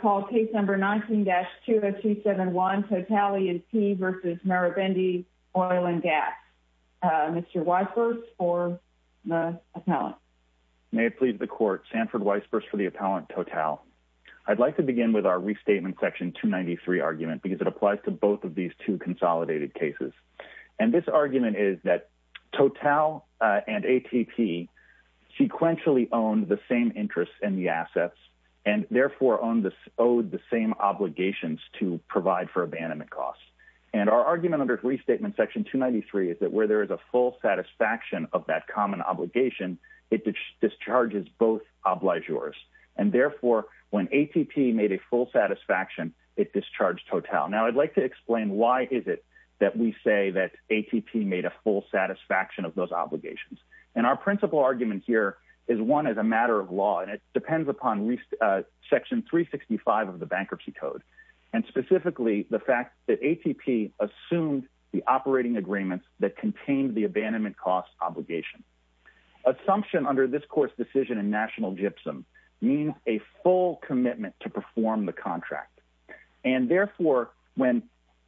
call case number 19-20271, Total E&P v. Marubeni Oil & Gas. Mr. Weisburst for the appellant. May it please the court, Sanford Weisburst for the appellant, Total. I'd like to begin with our restatement section 293 argument because it applies to both of these two consolidated cases. And this argument is that Total and ATP sequentially owned the same interests and the assets and therefore owed the same obligations to provide for abandonment costs. And our argument under restatement section 293 is that where there is a full satisfaction of that common obligation, it discharges both obligors. And therefore, when ATP made a full satisfaction, it discharged Total. Now, I'd like to explain why is it that we say that ATP made a full satisfaction of those obligations. And our principal argument here is one as a matter of law, and it depends upon section 365 of the Bankruptcy Code, and specifically the fact that ATP assumed the operating agreements that contained the abandonment costs obligation. Assumption under this court's decision in national gypsum means a full commitment to perform the contract. And therefore, when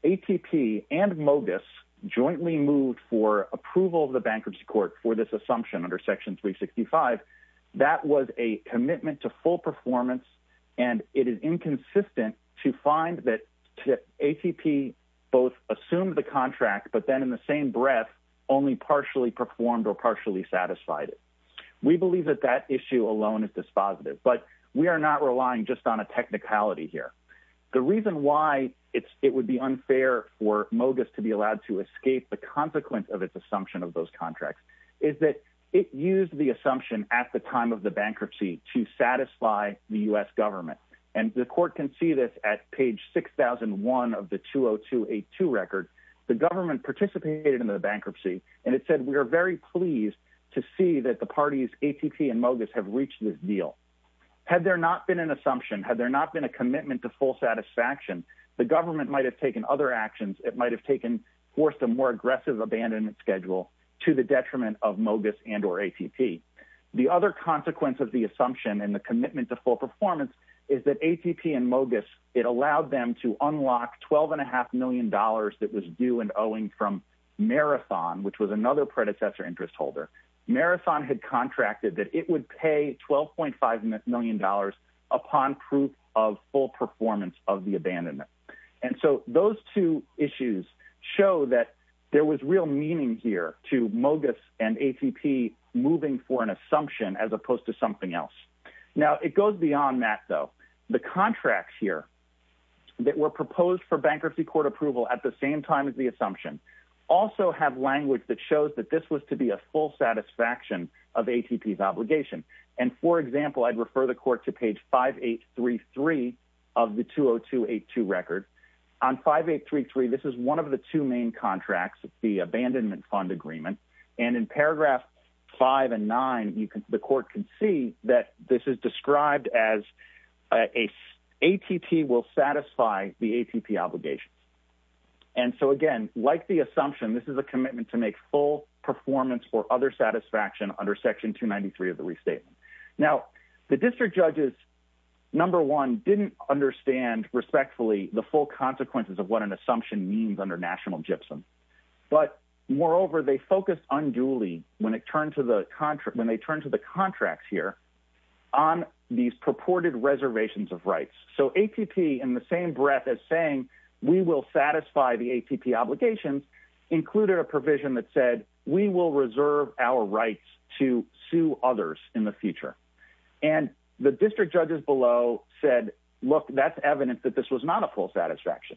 ATP and Mogis jointly moved for approval of bankruptcy court for this assumption under section 365, that was a commitment to full performance. And it is inconsistent to find that ATP both assumed the contract, but then in the same breath, only partially performed or partially satisfied. We believe that that issue alone is dispositive, but we are not relying just on a technicality here. The reason why it would be unfair for Mogis to be allowed to escape the consequence of its assumption of those contracts is that it used the assumption at the time of the bankruptcy to satisfy the U.S. government. And the court can see this at page 6001 of the 20282 record. The government participated in the bankruptcy, and it said, we are very pleased to see that the parties ATP and Mogis have reached this deal. Had there not been an assumption, had there not been a commitment to full satisfaction, the government might have taken other actions. It might have taken, forced a more aggressive abandonment schedule to the detriment of Mogis and or ATP. The other consequence of the assumption and the commitment to full performance is that ATP and Mogis, it allowed them to unlock $12.5 million that was due and owing from Marathon, which was another predecessor interest holder. Marathon had contracted that it would pay $12.5 million upon proof of full performance of the abandonment. And so those two issues show that there was real meaning here to Mogis and ATP moving for an assumption as opposed to something else. Now, it goes beyond that, though. The contracts here that were proposed for bankruptcy court approval at the same time as the assumption also have language that shows that this was to be full satisfaction of ATP's obligation. And for example, I'd refer the court to page 5833 of the 20282 record. On 5833, this is one of the two main contracts, the abandonment fund agreement. And in paragraph five and nine, the court can see that this is described as ATP will satisfy the ATP obligations. And so again, like the assumption, this is a commitment to make full performance or other satisfaction under section 293 of the restatement. Now, the district judges, number one, didn't understand respectfully the full consequences of what an assumption means under national gypsum. But moreover, they focused unduly when they turned to the contracts here on these purported reservations of rights. So ATP, in the same we will reserve our rights to sue others in the future. And the district judges below said, look, that's evidence that this was not a full satisfaction.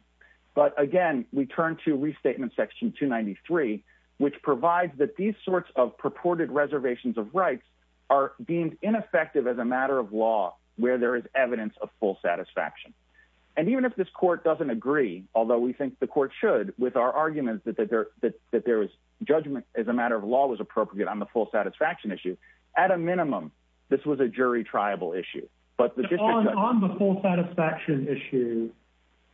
But again, we turn to restatement section 293, which provides that these sorts of purported reservations of rights are deemed ineffective as a matter of law where there is evidence of full satisfaction. And even if this judgment as a matter of law was appropriate on the full satisfaction issue, at a minimum, this was a jury triable issue. But on the full satisfaction issue,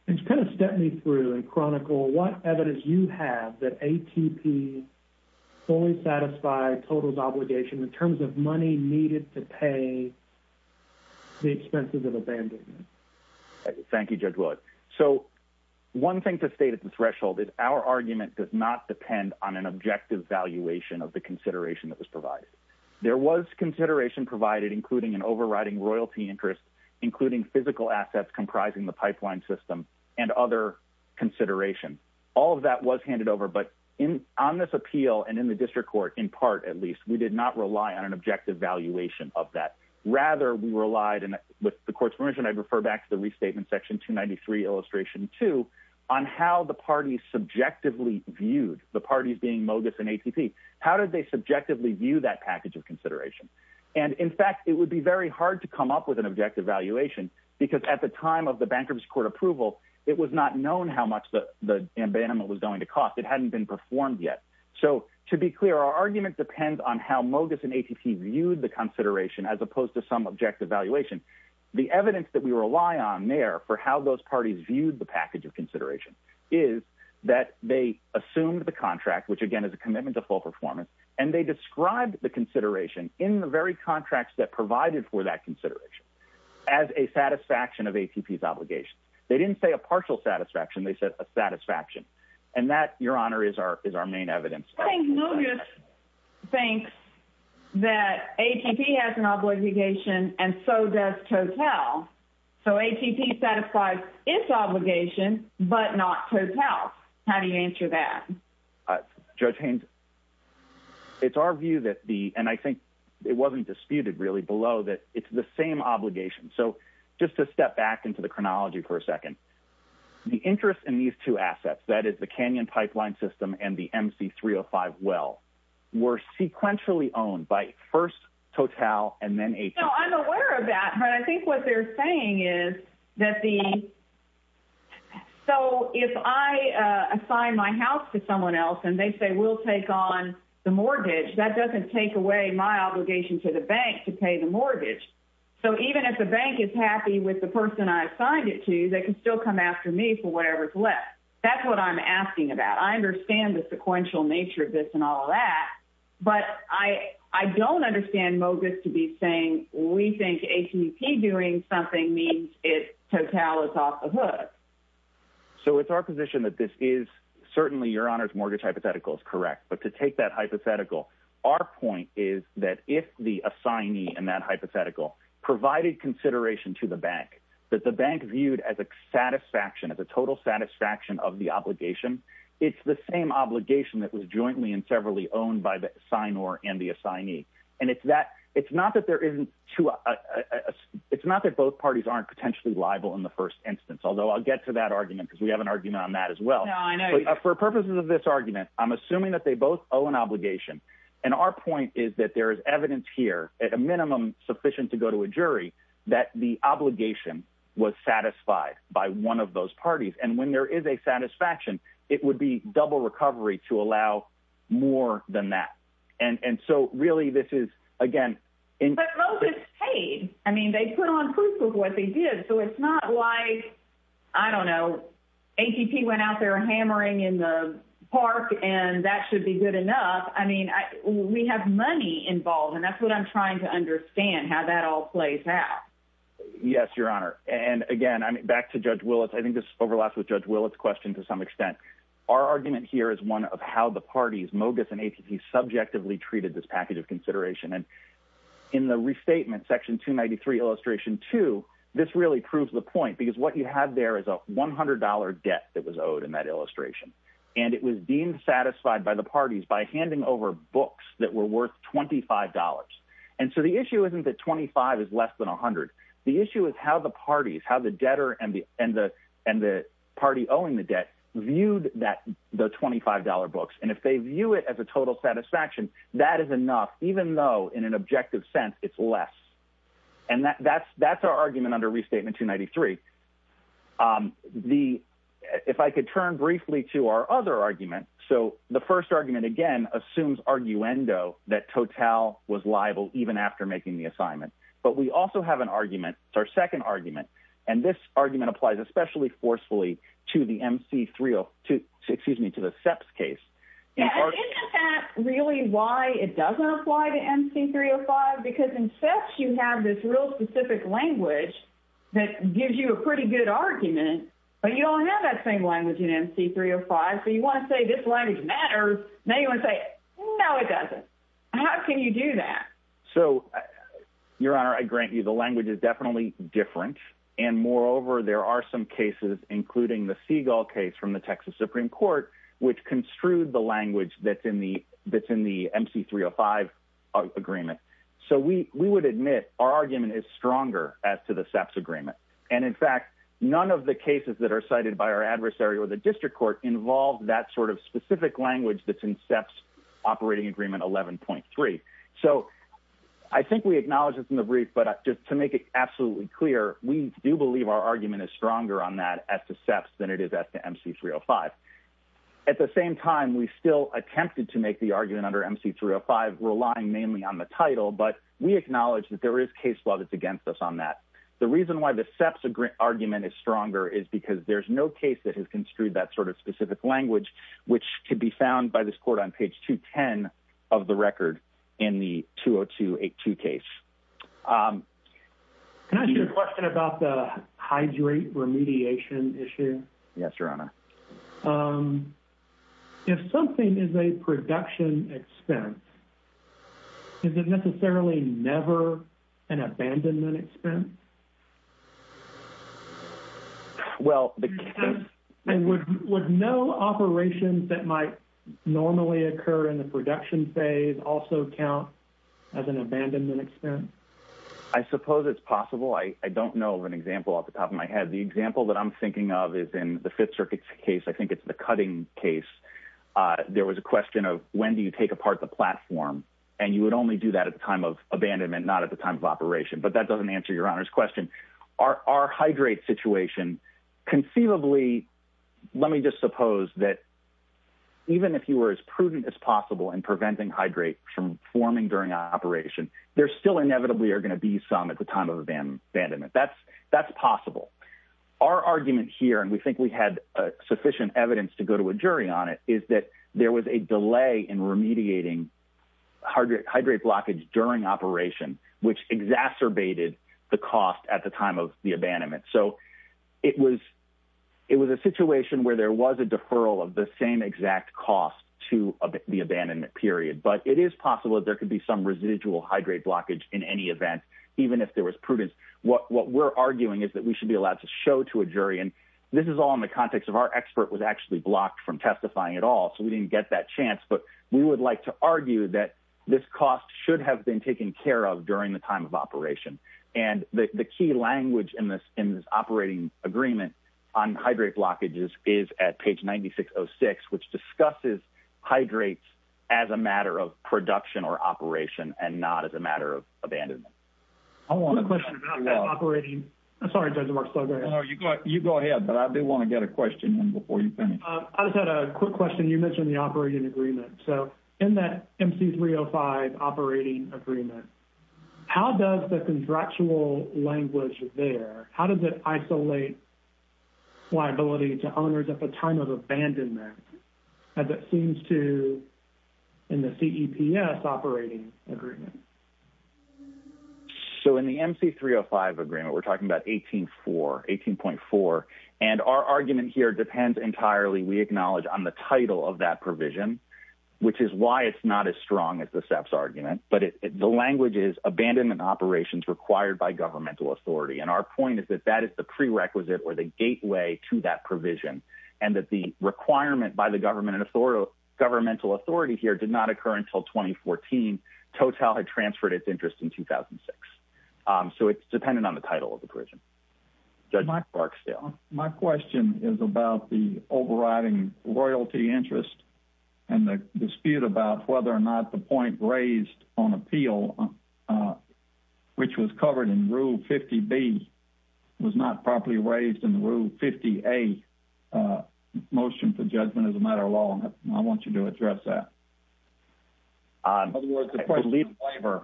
it's going to step me through and chronicle what evidence you have that ATP fully satisfied totals obligation in terms of money needed to pay the expenses of abandonment. Thank you, Judge Willett. So one thing to state at the threshold is our argument does not depend on an objective valuation of the consideration that was provided. There was consideration provided, including an overriding royalty interest, including physical assets comprising the pipeline system, and other considerations. All of that was handed over. But on this appeal and in the district court, in part, at least, we did not rely on an objective valuation of that. Rather, we relied, and with the court's permission, I'd refer back to the restatement section 293, illustration two, on how the parties subjectively viewed the parties being Mogis and ATP. How did they subjectively view that package of consideration? And in fact, it would be very hard to come up with an objective valuation, because at the time of the bankruptcy court approval, it was not known how much the abandonment was going to cost. It hadn't been performed yet. So to be clear, our argument depends on how Mogis and ATP viewed the consideration as opposed to some objective valuation. The evidence that we rely on there for how those parties viewed the package of consideration is that they assumed the contract, which again is a commitment to full performance, and they described the consideration in the very contracts that provided for that consideration as a satisfaction of ATP's obligations. They didn't say a partial satisfaction, they said a satisfaction. And that, Your Honor, is our main evidence. I think Mogis thinks that ATP has an obligation, and so does TOTAL. So ATP satisfies its obligation, but not TOTAL. How do you answer that? Judge Haines, it's our view that the, and I think it wasn't disputed really, below that it's the same obligation. So just to step back into the chronology for a second, the interest in these assets, that is the Canyon Pipeline System and the MC-305 well, were sequentially owned by first TOTAL and then ATP. No, I'm aware of that, but I think what they're saying is that the, so if I assign my house to someone else and they say we'll take on the mortgage, that doesn't take away my obligation to the bank to pay the mortgage. So even if the bank is happy with the person I That's what I'm asking about. I understand the sequential nature of this and all that, but I don't understand Mogis to be saying we think ATP doing something means TOTAL is off the hook. So it's our position that this is certainly, Your Honor's mortgage hypothetical is correct, but to take that hypothetical, our point is that if the assignee in that hypothetical provided consideration to the bank, that the bank viewed as a satisfaction, as a total satisfaction of the obligation, it's the same obligation that was jointly and severally owned by the sign or and the assignee. And it's not that there isn't two, it's not that both parties aren't potentially liable in the first instance, although I'll get to that argument because we have an argument on that as well. For purposes of this argument, I'm assuming that they both owe an obligation. And our point is that there is evidence here, at a minimum sufficient to go to a jury, that the obligation was satisfied by one of those parties. And when there is a satisfaction, it would be double recovery to allow more than that. And so really, this is again- But Mogis paid. I mean, they put on proof of what they did. So it's not like, I don't know, ATP went out there hammering in the park and that should be good enough. I mean, we have money involved, and that's what I'm trying to understand, how that all plays out. Yes, Your Honor. And again, back to Judge Willits, I think this overlaps with Judge Willits' question to some extent. Our argument here is one of how the parties, Mogis and ATP, subjectively treated this package of consideration. And in the restatement, Section 293, Illustration 2, this really proves the point, because what you have there is a $100 debt that was owed in that illustration. And it was deemed satisfied by the parties by handing over books that were worth $25. And so the issue isn't that $25 is less than $100. The issue is how the parties, how the debtor and the party owing the debt, viewed the $25 books. And if they view it as a total satisfaction, that is enough, even though in an objective sense, it's less. And that's our argument under Restatement 293. If I could turn briefly to our other argument, so the first argument, again, assumes arguendo that Total was liable even after making the assignment. But we also have an argument, our second argument, and this argument applies especially forcefully to the SEPS case. Isn't that really why it doesn't apply to MC-305? Because in SEPS, you have this real specific language that gives you a pretty good argument, but you don't have that same language in MC-305. So you want to say this language matters. Now you want to say, no, it doesn't. How can you do that? So, Your Honor, I grant you the language is definitely different. And moreover, there are some cases, including the Segal case from the We would admit our argument is stronger as to the SEPS agreement. And in fact, none of the cases that are cited by our adversary or the district court involved that sort of specific language that's in SEPS operating agreement 11.3. So I think we acknowledge this in the brief, but just to make it absolutely clear, we do believe our argument is stronger on that as to SEPS than it is at the MC-305. At the same time, we still attempted to make the argument under MC-305 relying mainly on the title, but we acknowledge that there is case law that's against us on that. The reason why the SEPS argument is stronger is because there's no case that has construed that sort of specific language, which could be found by this court on page 210 of the record in the 20282 case. Can I ask you a question about the hydrate remediation issue? Yes, Your Excellency. Would no operations that might normally occur in the production phase also count as an abandonment expense? I suppose it's possible. I don't know of an example off the top of my head. The example that I'm thinking of is in the Fifth Circuit's case. I think it's the platform, and you would only do that at the time of abandonment, not at the time of operation, but that doesn't answer Your Honor's question. Our hydrate situation, conceivably, let me just suppose that even if you were as prudent as possible in preventing hydrate from forming during operation, there still inevitably are going to be some at the time of abandonment. That's possible. Our argument here, and we think we had sufficient evidence to go to a jury on it, is that there was a delay in remediating hydrate blockage during operation, which exacerbated the cost at the time of the abandonment. It was a situation where there was a deferral of the same exact cost to the abandonment period, but it is possible that there could be some residual hydrate blockage in any event, even if there was prudence. What we're arguing is that we should be allowed to show to a jury, and this is all in the context of our expert was actually blocked from testifying at all, so we didn't get that chance, but we would like to argue that this cost should have been taken care of during the time of operation, and the key language in this operating agreement on hydrate blockages is at page 9606, which discusses hydrates as a matter of production or operation and not as a matter of abandonment. I want a question about that operating. I'm sorry, Judge Marks, go ahead. You go ahead, but I do want to get a question in before you finish. I just had a quick question. You mentioned the operating agreement, so in that MC 305 operating agreement, how does the contractual language there, how does it isolate liability to owners at the time of abandonment as it seems to in the CEPS operating agreement? So in the MC 305 agreement, we're talking about 18.4, and our argument here depends entirely, we acknowledge, on the title of that provision, which is why it's not as strong as the CEPS argument, but the language is abandonment operations required by governmental authority, and our point is that that is the prerequisite or the gateway to that provision and that the requirement by the government and governmental authority here did not occur until 2014. Total had transferred its interest in 2006, so it's dependent on the title of the provision. Judge Marks, go ahead. My question is about the overriding royalty interest and the dispute about whether or not the point raised on appeal, which was covered in Rule 50B, was not properly raised in the Rule 50A motion for judgment as a matter of law, and I want you to address that. In other words, the question of waiver.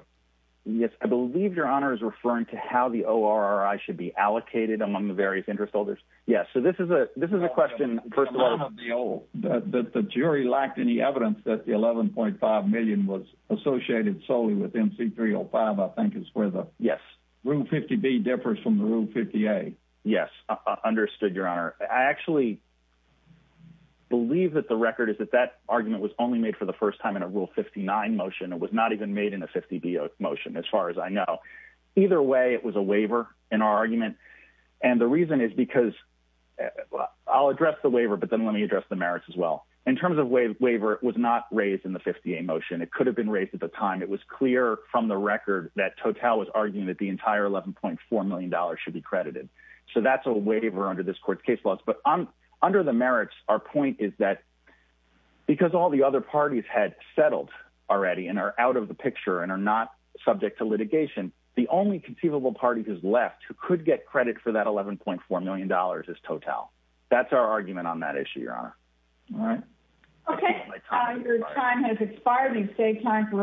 Yes, I believe Your Honor is referring to how the ORRI should be allocated among the various interest holders. Yes, so this is a question, first of all. The jury lacked any evidence that the 11.5 million was associated solely with MC 305, I think is where the Rule 50B differs from the Rule 50A. Yes, understood, Your Honor. I actually believe that the record is that that argument was only for the first time in a Rule 59 motion. It was not even made in a 50B motion as far as I know. Either way, it was a waiver in our argument, and the reason is because I'll address the waiver, but then let me address the merits as well. In terms of waiver, it was not raised in the 50A motion. It could have been raised at the time. It was clear from the record that Total was arguing that the entire $11.4 million should be credited, so that's a waiver under this court's case laws, but under the merits, our point is that because all the other parties had settled already and are out of the picture and are not subject to litigation, the only conceivable party who's left who could get credit for that $11.4 million is Total. That's our argument on that issue, Your Honor. All right. Okay, your time has expired. We've saved time for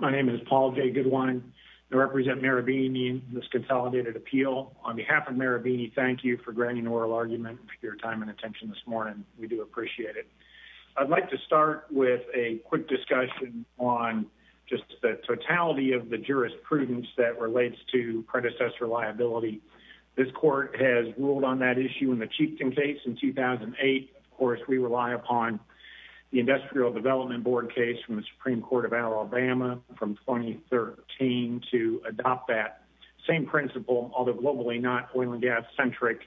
my name is Paul J. Goodwine. I represent Marabini in this consolidated appeal. On behalf of Marabini, thank you for granting oral argument for your time and attention this morning. We do appreciate it. I'd like to start with a quick discussion on just the totality of the jurisprudence that relates to predecessor liability. This court has ruled on that issue in the Chieftain case in 2008. Of course, we rely upon the Industrial Development Board case from the Supreme Court of Alabama from 2013 to adopt that same principle, although globally not oil and gas-centric,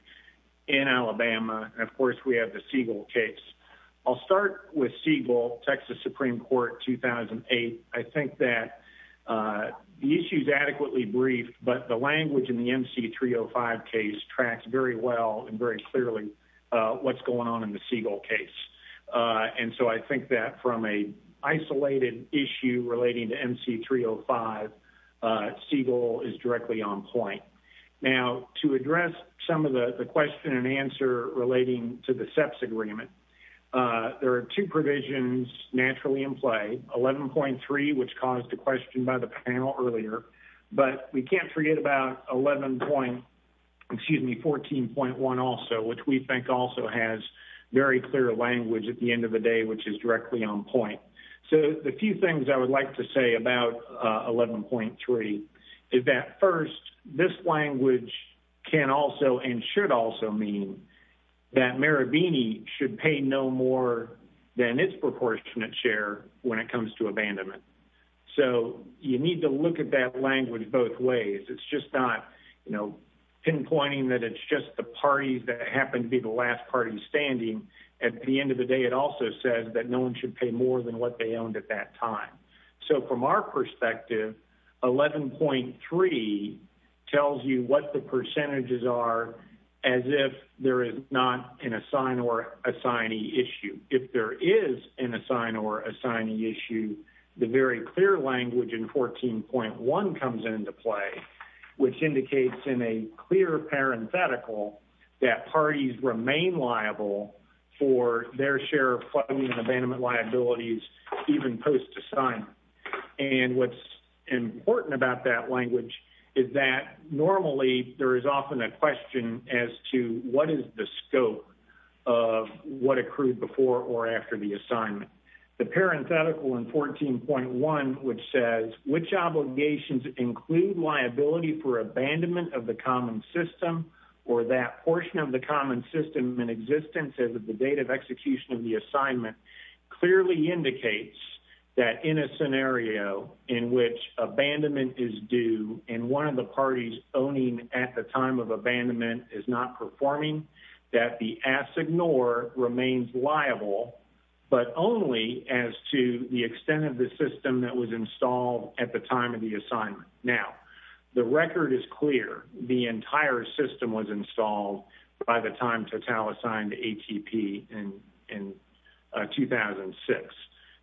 in Alabama. Of course, we have the Siegel case. I'll start with Siegel, Texas Supreme Court, 2008. I think that the issue is adequately briefed, but the language in the MC-305 case tracks very well and very closely to the Siegel case. I think that from an isolated issue relating to MC-305, Siegel is directly on point. Now, to address some of the question and answer relating to the SEPS agreement, there are two provisions naturally in play. 11.3, which caused a question by the panel earlier, but we can't forget about 14.1 also, which we think also has very clear language at the end of the day, which is directly on point. The few things I would like to say about 11.3 is that first, this language can also and should also mean that Marabini should pay no more than its proportionate share when it comes to abandonment. So you need to look at that language both ways. It's just not pinpointing that it's just the parties that happen to be the last party standing. At the end of the day, it also says that no one should pay more than what they owned at that time. So from our perspective, 11.3 tells you what the percentages are as if there is not an assign or assignee issue. If there is an assign or assignee issue, the very clear language in 14.1 comes into play, which indicates in a clear parenthetical that parties remain liable for their share of funding and abandonment liabilities even post-assignment. And what's of what accrued before or after the assignment. The parenthetical in 14.1 which says which obligations include liability for abandonment of the common system or that portion of the common system in existence as of the date of execution of the assignment clearly indicates that in a scenario in which abandonment is due and one of the parties owning at the time of abandonment is not performing, that the assignore remains liable, but only as to the extent of the system that was installed at the time of the assignment. Now, the record is clear. The entire system was installed by the time Total assigned to ATP in 2006.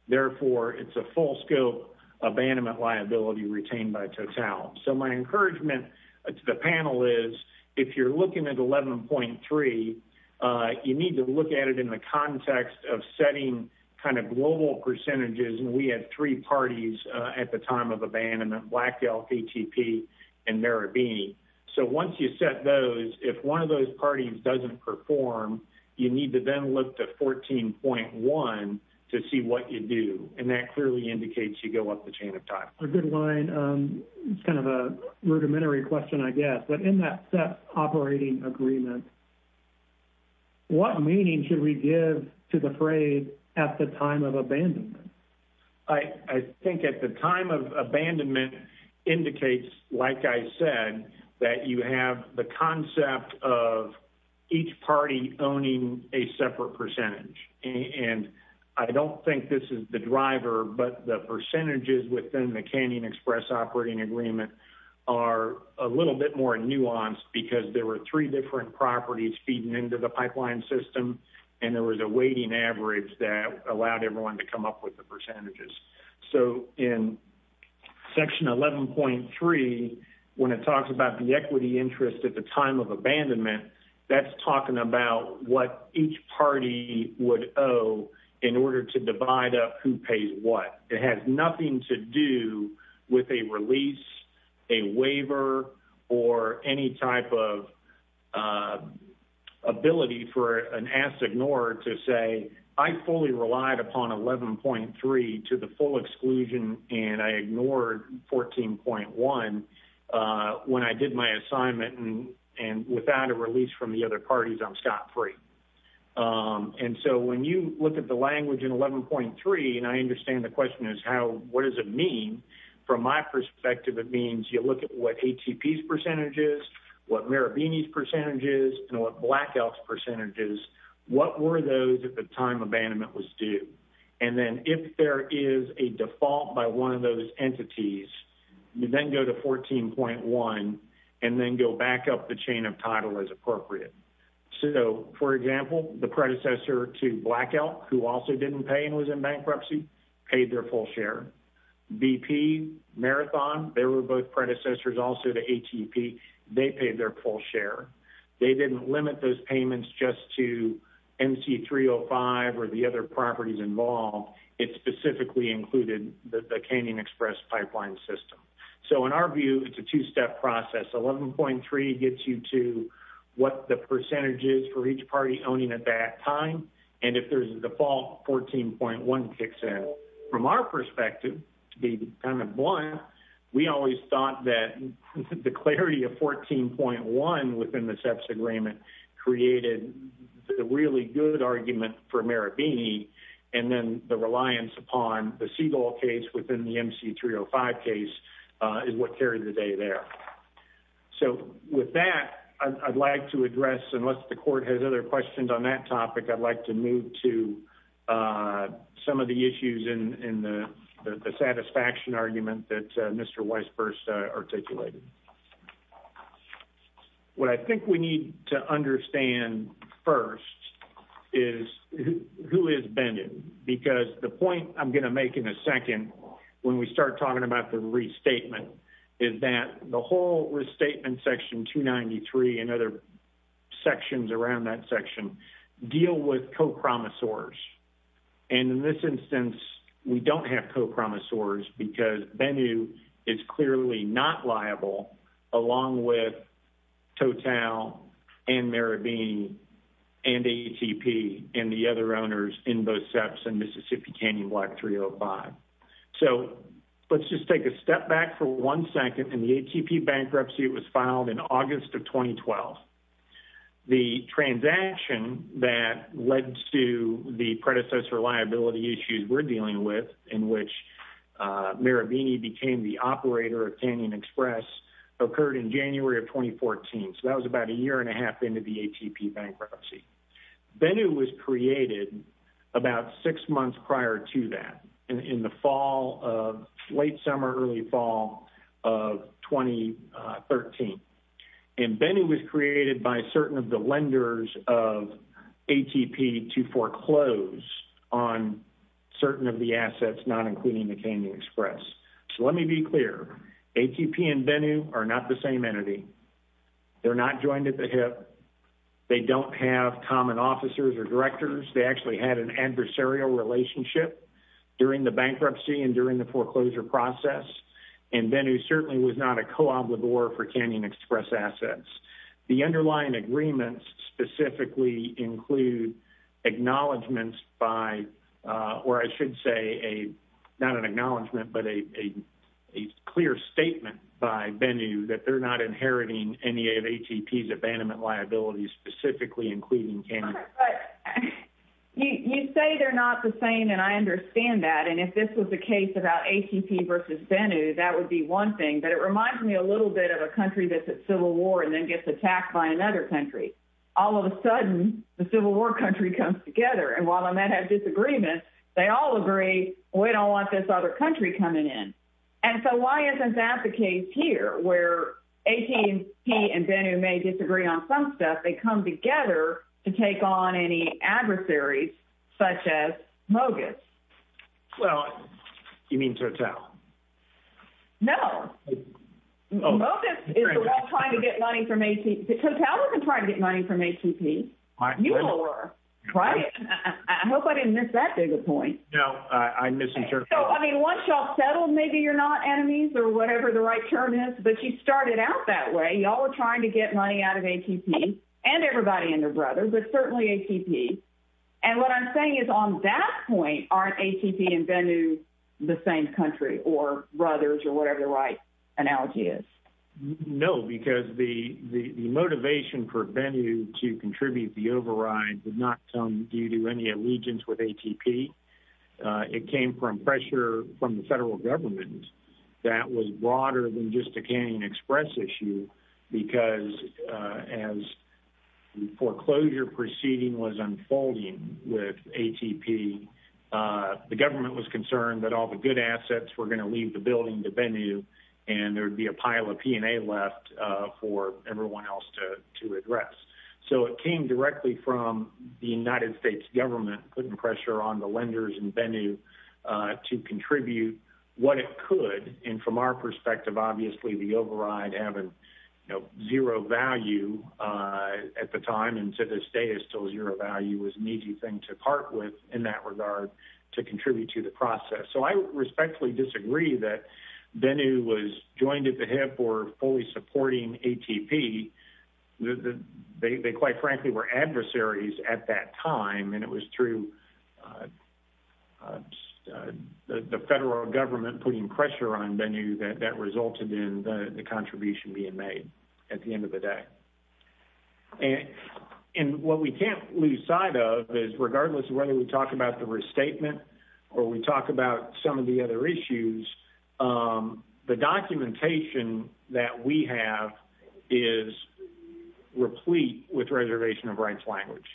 Therefore, it's a full scope abandonment retained by Total. So my encouragement to the panel is if you're looking at 11.3, you need to look at it in the context of setting kind of global percentages. And we had three parties at the time of abandonment, Black Elk, ATP, and Marabini. So once you set those, if one of those parties doesn't perform, you need to then look to 14.1 to see what you do. And that clearly indicates you go up the chain of time. A good line. It's kind of a rudimentary question, I guess. But in that set operating agreement, what meaning should we give to the phrase at the time of abandonment? I think at the time of abandonment indicates, like I said, that you have the concept of each party owning a separate percentage. And I don't think this is the driver, but the percentages within the Canyon Express operating agreement are a little bit more nuanced because there were three different properties feeding into the pipeline system, and there was a weighting average that allowed everyone to come up with the percentages. So in section 11.3, when it talks about the equity interest at the time of abandonment, that's talking about what each party would owe in order to divide up who pays what. It has nothing to do with a release, a waiver, or any type of ability for an asked ignorer to say, I fully relied upon 11.3 to the full exclusion, and I ignored 14.1 when I did my assignment, and without a release from the other parties, I'm scot-free. And so when you look at the language in 11.3, and I understand the question is what does it mean, from my perspective it means you look at what ATP's percentage is, what Marabini's percentage is, and what Black Elk's percentage is, what were those at the time was due. And then if there is a default by one of those entities, you then go to 14.1, and then go back up the chain of title as appropriate. So for example, the predecessor to Black Elk, who also didn't pay and was in bankruptcy, paid their full share. BP, Marathon, they were both predecessors also to ATP, they paid their full share. They didn't limit those payments just to MC305 or the other properties involved, it specifically included the Canyon Express pipeline system. So in our view, it's a two-step process. 11.3 gets you to what the percentage is for each party owning at that time, and if there's a default, 14.1 kicks in. From our perspective, to be kind of blunt, we always thought that the clarity of 14.1 within the created the really good argument for Marabini, and then the reliance upon the Seagull case within the MC305 case is what carried the day there. So with that, I'd like to address, unless the court has other questions on that topic, I'd like to move to some of the issues in the satisfaction argument that Mr. Weisburst articulated. What I think we need to understand first is who is bending, because the point I'm going to make in a second when we start talking about the restatement is that the whole restatement section 293 and other sections around that section deal with copromisors, because Bennu is clearly not liable, along with Total and Marabini and ATP and the other owners in both SEPs and Mississippi Canyon Block 305. So let's just take a step back for one second. In the ATP bankruptcy, it was filed in August of 2012. The transaction that led to the Marabini became the operator of Canyon Express occurred in January of 2014, so that was about a year and a half into the ATP bankruptcy. Bennu was created about six months prior to that, in the late summer, early fall of 2013. And Bennu was created by certain of the lenders of ATP to the Canyon Express. So let me be clear. ATP and Bennu are not the same entity. They're not joined at the hip. They don't have common officers or directors. They actually had an adversarial relationship during the bankruptcy and during the foreclosure process. And Bennu certainly was not a co-obligor for Canyon Express assets. The underlying agreements specifically include acknowledgments by, or I should say, not an acknowledgment, but a clear statement by Bennu that they're not inheriting any of ATP's abandonment liabilities, specifically including Canyon Express. You say they're not the same, and I understand that. And if this was the case about ATP versus Bennu, that would be one thing. But it reminds me a little bit of a country that's at war with another country. All of a sudden, the Civil War country comes together. And while they might have disagreements, they all agree, we don't want this other country coming in. And so why isn't that the case here, where ATP and Bennu may disagree on some stuff, they come together to take on any adversaries, such as Mogis? Well, you mean Total? No. Mogis is the one trying to get money from ATP. Total wasn't trying to get money from ATP. You all were, right? I hope I didn't miss that big a point. No, I missed your point. So, I mean, once y'all settled, maybe you're not enemies or whatever the right term is, but you started out that way. Y'all were trying to get money out of ATP, and everybody and their brothers or whatever the right analogy is. No, because the motivation for Bennu to contribute the override did not come due to any allegiance with ATP. It came from pressure from the federal government that was broader than just a Canyon Express issue, because as the foreclosure proceeding was unfolding with ATP, the government was concerned that all the good assets were going to leave the building to Bennu, and there'd be a pile of P&A left for everyone else to address. So it came directly from the United States government putting pressure on the lenders and Bennu to contribute what it could. And from our perspective, obviously the override having zero value at the time, and to this day is still zero value, was an easy thing to part with in that regard to contribute to the process. So I respectfully disagree that Bennu was joined at the hip or fully supporting ATP. They quite frankly were adversaries at that time, and it was through the federal government putting pressure on Bennu that resulted in the contribution being made at the end of the day. And what we can't lose sight of is regardless of whether we talk about the restatement or we talk about some of the other issues, the documentation that we have is replete with reservation of rights language.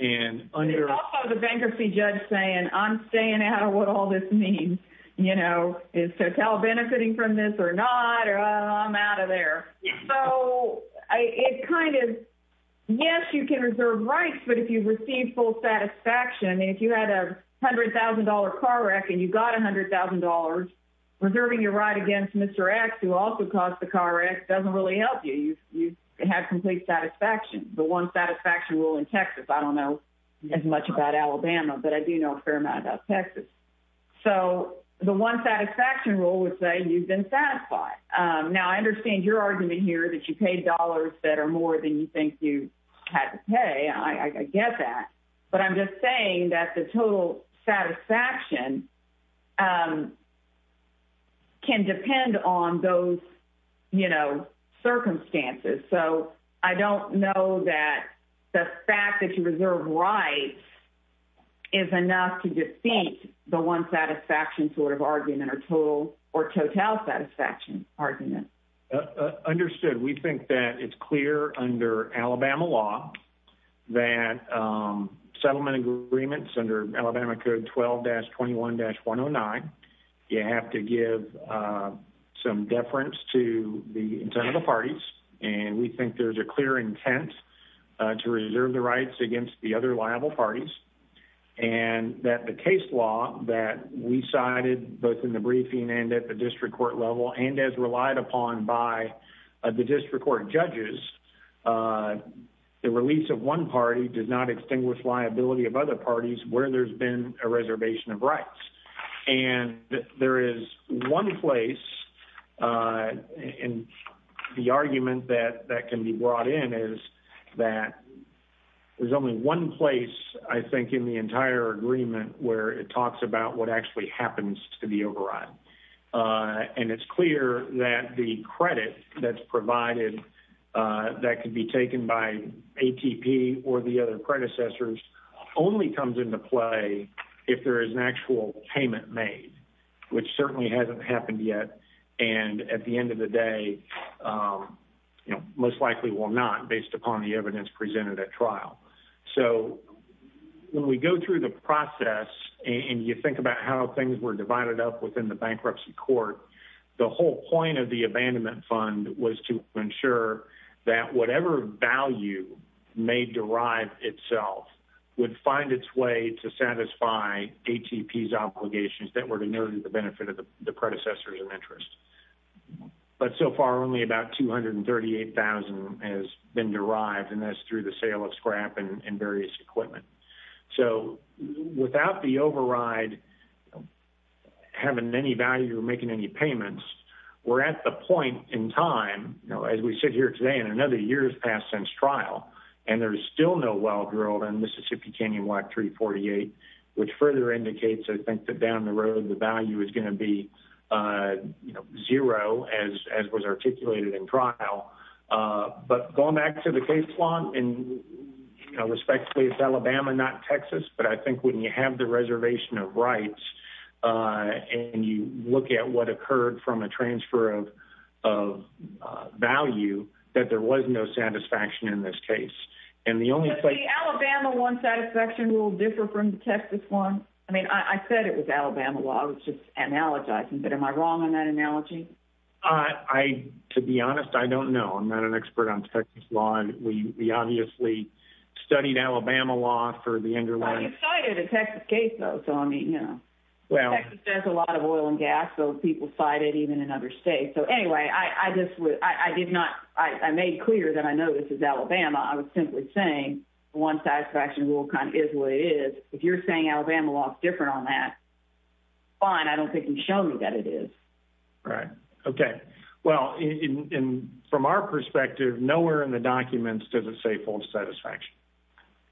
And also the bankruptcy judge saying, I'm staying out of what all this means. You know, is Total benefiting from this or not, or I'm out of there. So it kind of, yes, you can reserve rights, but if you've received full satisfaction, I mean, if you had a $100,000 car wreck and you got $100,000, reserving your right against Mr. X, who also caused the car wreck, doesn't really help you. You have complete satisfaction. The one satisfaction rule in Texas. I don't know as much about Alabama, but I do know a fair amount about Texas. So the one satisfaction rule would say you've been satisfied. Now I understand your argument here that you paid dollars that are more than you think you had to pay. I get that. But I'm just saying that the total satisfaction can depend on those circumstances. So I don't know that the fact that you reserve rights is enough to defeat the one satisfaction sort of argument or total satisfaction argument. Understood. We think that it's clear under Alabama law that settlement agreements under Alabama code 12-21-109, you have to give some deference to the parties. And we think there's a clear intent to reserve the rights against the other liable parties and that the case law that we cited both in the briefing and at the district court level and as relied upon by the district court judges, the release of one party does not extinguish liability of other parties where there's been a reservation of rights. And there is one place in the agreement that can be brought in is that there's only one place I think in the entire agreement where it talks about what actually happens to the override. And it's clear that the credit that's provided that can be taken by ATP or the other predecessors only comes into play if there is an actual payment made, which certainly hasn't happened yet. And at the end of the day, you know, most likely will not based upon the evidence presented at trial. So when we go through the process and you think about how things were divided up within the bankruptcy court, the whole point of the abandonment fund was to ensure that whatever value may derive itself would find its way to satisfy ATP's obligations that were to nurture the benefit of the predecessors of interest. But so far only about 238,000 has been derived and that's through the sale of scrap and various equipment. So without the override having any value or making any payments, we're at the point in time, as we sit here today and another year has passed since trial, and there's still no well-drilled in Mississippi Canyon WAC 348, which further indicates I think that down the road the value is going to be, you know, zero as was articulated in trial. But going back to the case law, and respectfully it's Alabama, not Texas, but I think when you have the reservation of rights and you look at what satisfaction in this case, and the only place... Does the Alabama one satisfaction rule differ from the Texas one? I mean, I said it was Alabama law. I was just analogizing, but am I wrong on that analogy? To be honest, I don't know. I'm not an expert on Texas law and we obviously studied Alabama law for the underlying... I cited a Texas case though, so I mean, you know, Texas does a lot of oil and gas, those people cite it even in other states. So anyway, I made clear that I know this is Alabama. I was simply saying one satisfaction rule kind of is what it is. If you're saying Alabama law is different on that, fine. I don't think you can show me that it is. Right. Okay. Well, from our perspective, nowhere in the documents does it say full satisfaction.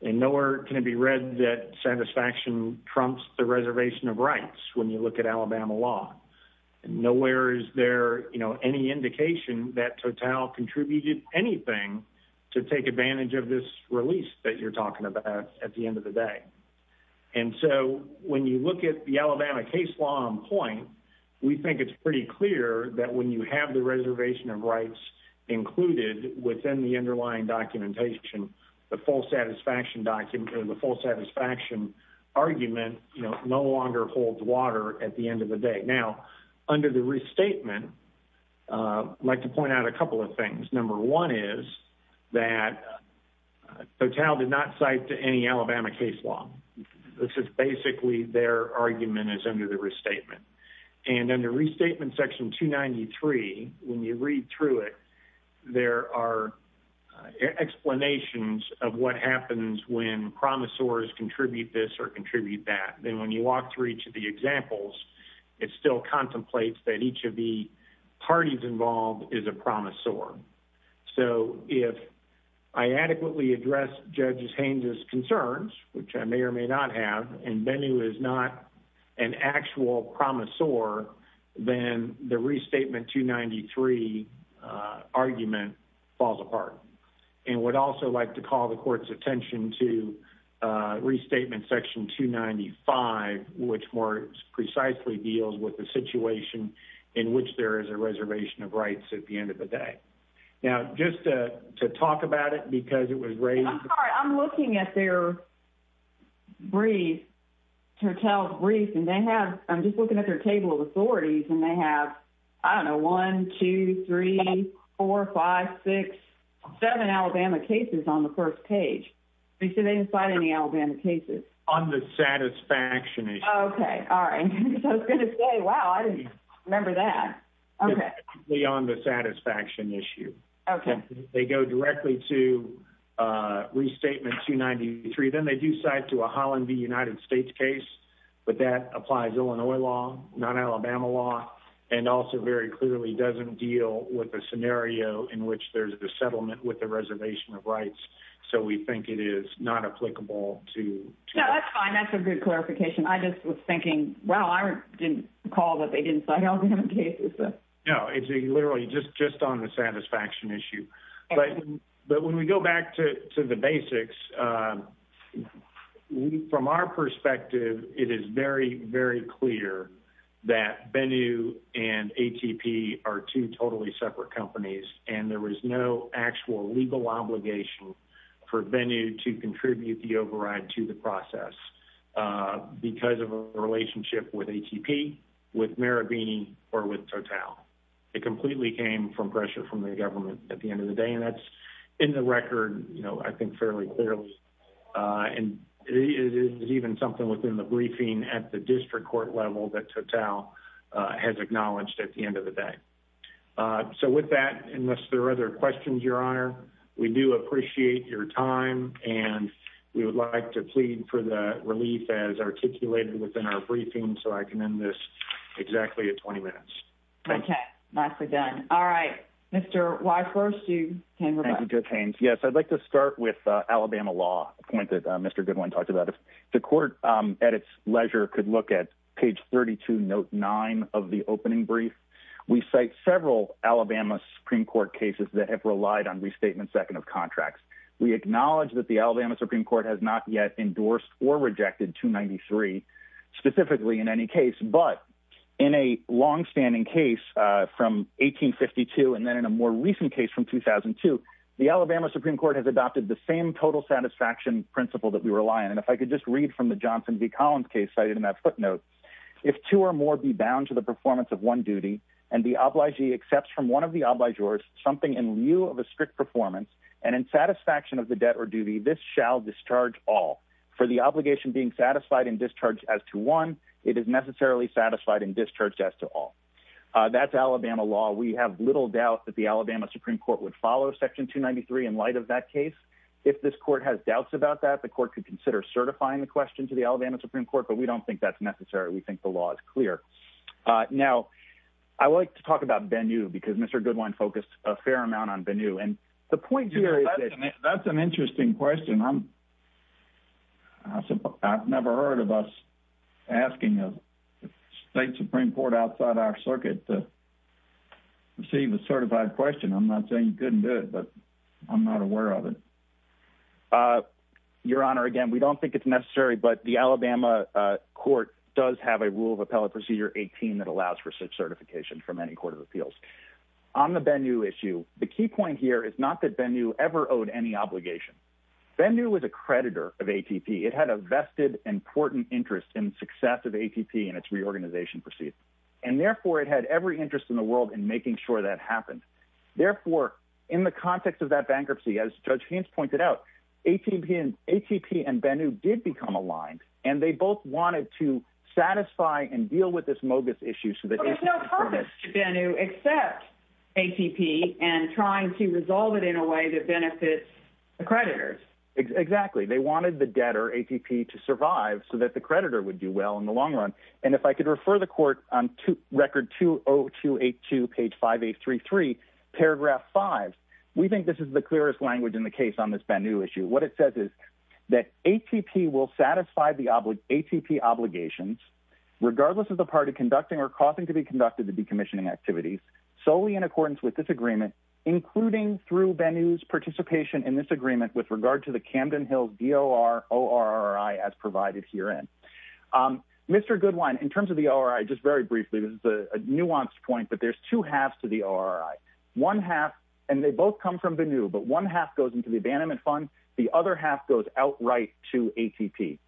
And nowhere can it be read that satisfaction trumps the reservation of rights when you look at Alabama law. Nowhere is there, you know, any indication that Total contributed anything to take advantage of this release that you're talking about at the end of the day. And so when you look at the Alabama case law on point, we think it's pretty clear that when you have the reservation of rights included within the underlying documentation, the full satisfaction document or the full satisfaction argument, you know, no longer holds water at the end of the day. Now, under the restatement, I'd like to point out a couple of things. Number one is that Total did not cite any Alabama case law. This is basically their argument is under the restatement. And under restatement section 293, when you read through it, there are explanations of what happens when promisors contribute this or contribute that. Then when you walk through each of the examples, it still contemplates that each of the parties involved is a promisor. So if I adequately address Judge Haynes' concerns, which I may or may not have, and Bennu is not an actual call the court's attention to restatement section 295, which more precisely deals with the situation in which there is a reservation of rights at the end of the day. Now, just to talk about it, because it was raised... I'm sorry, I'm looking at their brief, Total's brief, and they have, I'm just looking at their table of authorities, and they have, I don't know, 1, 2, 3, 4, 5, 6, 7 Alabama cases on the first page. Do they cite any Alabama cases? On the satisfaction issue. Okay. All right. I was going to say, wow, I didn't remember that. Beyond the satisfaction issue. Okay. They go directly to restatement 293. Then they do cite to a Holland v. United States case, but that applies Illinois law, not Alabama law, and also very clearly doesn't deal with a scenario in which there's a settlement with the reservation of rights. So we think it is not applicable to... No, that's fine. That's a good clarification. I just was thinking, wow, I didn't recall that they didn't cite Alabama cases. No, it's literally just on the satisfaction issue. But when we go back to the basics, from our perspective, it is very, very clear that Bennu and ATP are two totally separate companies and there was no actual legal obligation for Bennu to contribute the override to the process because of a relationship with ATP, with Marabini, or with Total. It completely came from pressure from the government at the end of the day. And that's in the record, I think fairly clearly. And it is even something within the briefing at the district court level that Total has acknowledged at the end of the day. So with that, unless there are other questions, Your Honor, we do appreciate your time and we would like to plead for the relief as articulated within our briefing. So I can end this exactly at 20 minutes. Okay. Nicely done. All right. Mr. Weisswurst, you can go back. Yes, I'd like to start with Alabama law, a point that Mr. Goodwin talked about. If the court at its leisure could look at page 32, note nine of the opening brief, we cite several Alabama Supreme Court cases that have relied on restatement second of contracts. We acknowledge that the Alabama Supreme Court has not yet endorsed or rejected 293 specifically in any case, but in a longstanding case from 1852, and then in a more recent case from 2002, the Alabama Supreme Court has adopted the same total satisfaction principle that we rely on. And if I could just read from the Johnson v. Collins case cited in that footnote, if two or more be bound to the performance of one duty and the obligee accepts from one of the obligors something in lieu of a strict performance and in satisfaction of the debt or duty, this shall discharge all. For the obligation being satisfied in discharge as to one, it is necessarily satisfied in discharge as to all. That's Alabama law. We have little doubt that the Alabama Supreme Court would follow section 293 in light of that case. If this court has doubts about that, the court could consider certifying the question to the Alabama Supreme Court, but we don't think that's necessary. We think the law is clear. Now, I like to talk about Bennu because Mr. Goodwin focused a fair amount on Bennu. Yeah, that's an interesting question. I've never heard of us asking a state Supreme Court outside our circuit to receive a certified question. I'm not saying you couldn't do it, but I'm not aware of it. Your Honor, again, we don't think it's necessary, but the Alabama court does have a rule of appellate procedure 18 that allows for such certification from any court of appeals. On the Bennu issue, the key point here is not that Bennu ever owed any obligation. Bennu was a creditor of ATP. It had a vested, important interest in the success of ATP and its reorganization proceeds. Therefore, it had every interest in the world in making sure that happened. Therefore, in the context of that bankruptcy, as Judge Haynes pointed out, ATP and Bennu did become aligned, and they both wanted to satisfy and deal with this mogus issue. There's no purpose to Bennu except ATP and trying to resolve it in a way that benefits the creditors. Exactly. They wanted the debtor, ATP, to survive so that the creditor would do well in the long run. If I could refer the court on record 20282, page 5833, paragraph 5, we think this is the clearest language in the case on this Bennu issue. What it says is that ATP will satisfy the decommissioning activities solely in accordance with this agreement, including through Bennu's participation in this agreement with regard to the Camden Hills DOR-ORRI as provided herein. Mr. Goodwine, in terms of the ORI, just very briefly, this is a nuanced point, but there's two halves to the ORI. One half, and they both come from Bennu, but one half goes into the abandonment fund. The other half goes outright to ATP,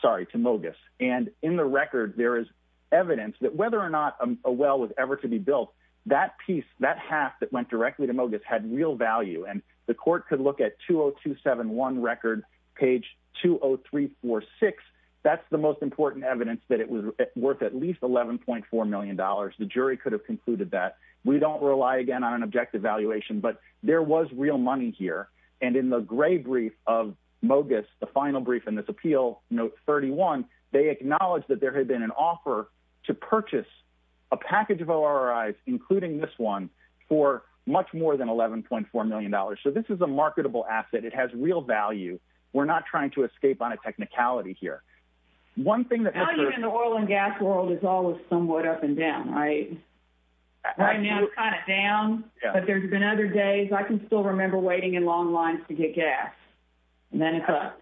sorry, to mogus. In the record, there is evidence that whether or not a well was ever to be built, that piece, that half that went directly to mogus had real value. The court could look at 20271 record, page 20346. That's the most important evidence that it was worth at least $11.4 million. The jury could have concluded that. We don't rely, again, on an objective valuation, but there was real money here. In the gray brief of mogus, the final brief in this appeal, note 31, they acknowledged that there had been an offer to purchase a package of ORIs, including this one, for much more than $11.4 million. So this is a marketable asset. It has real value. We're not trying to escape on a technicality here. Value in the oil and gas world is always somewhat up and down, right? Right now, it's kind of down, but there's been other days. I can still remember waiting in long lines to get gas, and then it's up.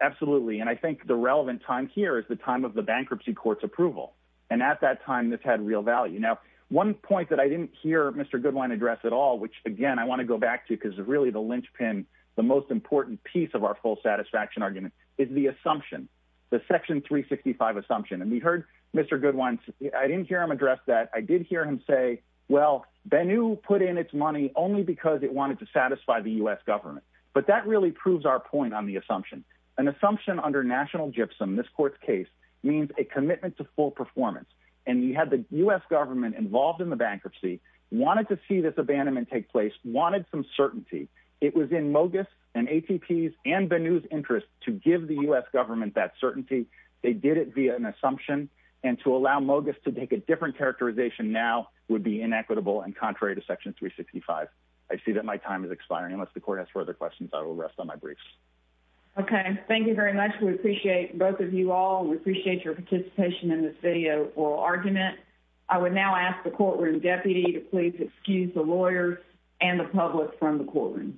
Absolutely. I think the relevant time here is the time of the bankruptcy court's approval. At that time, this had real value. Now, one point that I didn't hear Mr. Goodwine address at all, which, again, I want to go back to because it's really the linchpin, the most important piece of our full satisfaction argument, is the assumption, the Section 365 assumption. We heard Mr. Goodwine. I didn't hear him address that. I did hear him say, well, Bennu put in its money only because it wanted to satisfy the U.S. government. But that really proves our point on the assumption. An assumption under national gypsum, this court's case, means a commitment to full performance. And you had the U.S. government involved in the bankruptcy, wanted to see this abandonment take place, wanted some certainty. It was in Mogis and ATP's and Bennu's interest to give the U.S. government that certainty. They did it via an assumption. And to allow Mogis to take a different characterization now would be inequitable and contrary to Section 365. I see that my time is expiring. Unless the court has further questions, I will rest on my briefs. Okay. Thank you very much. We appreciate both of you all. We appreciate your participation in this video oral argument. I would now ask the courtroom deputy to please excuse the lawyers and the public from the courtroom.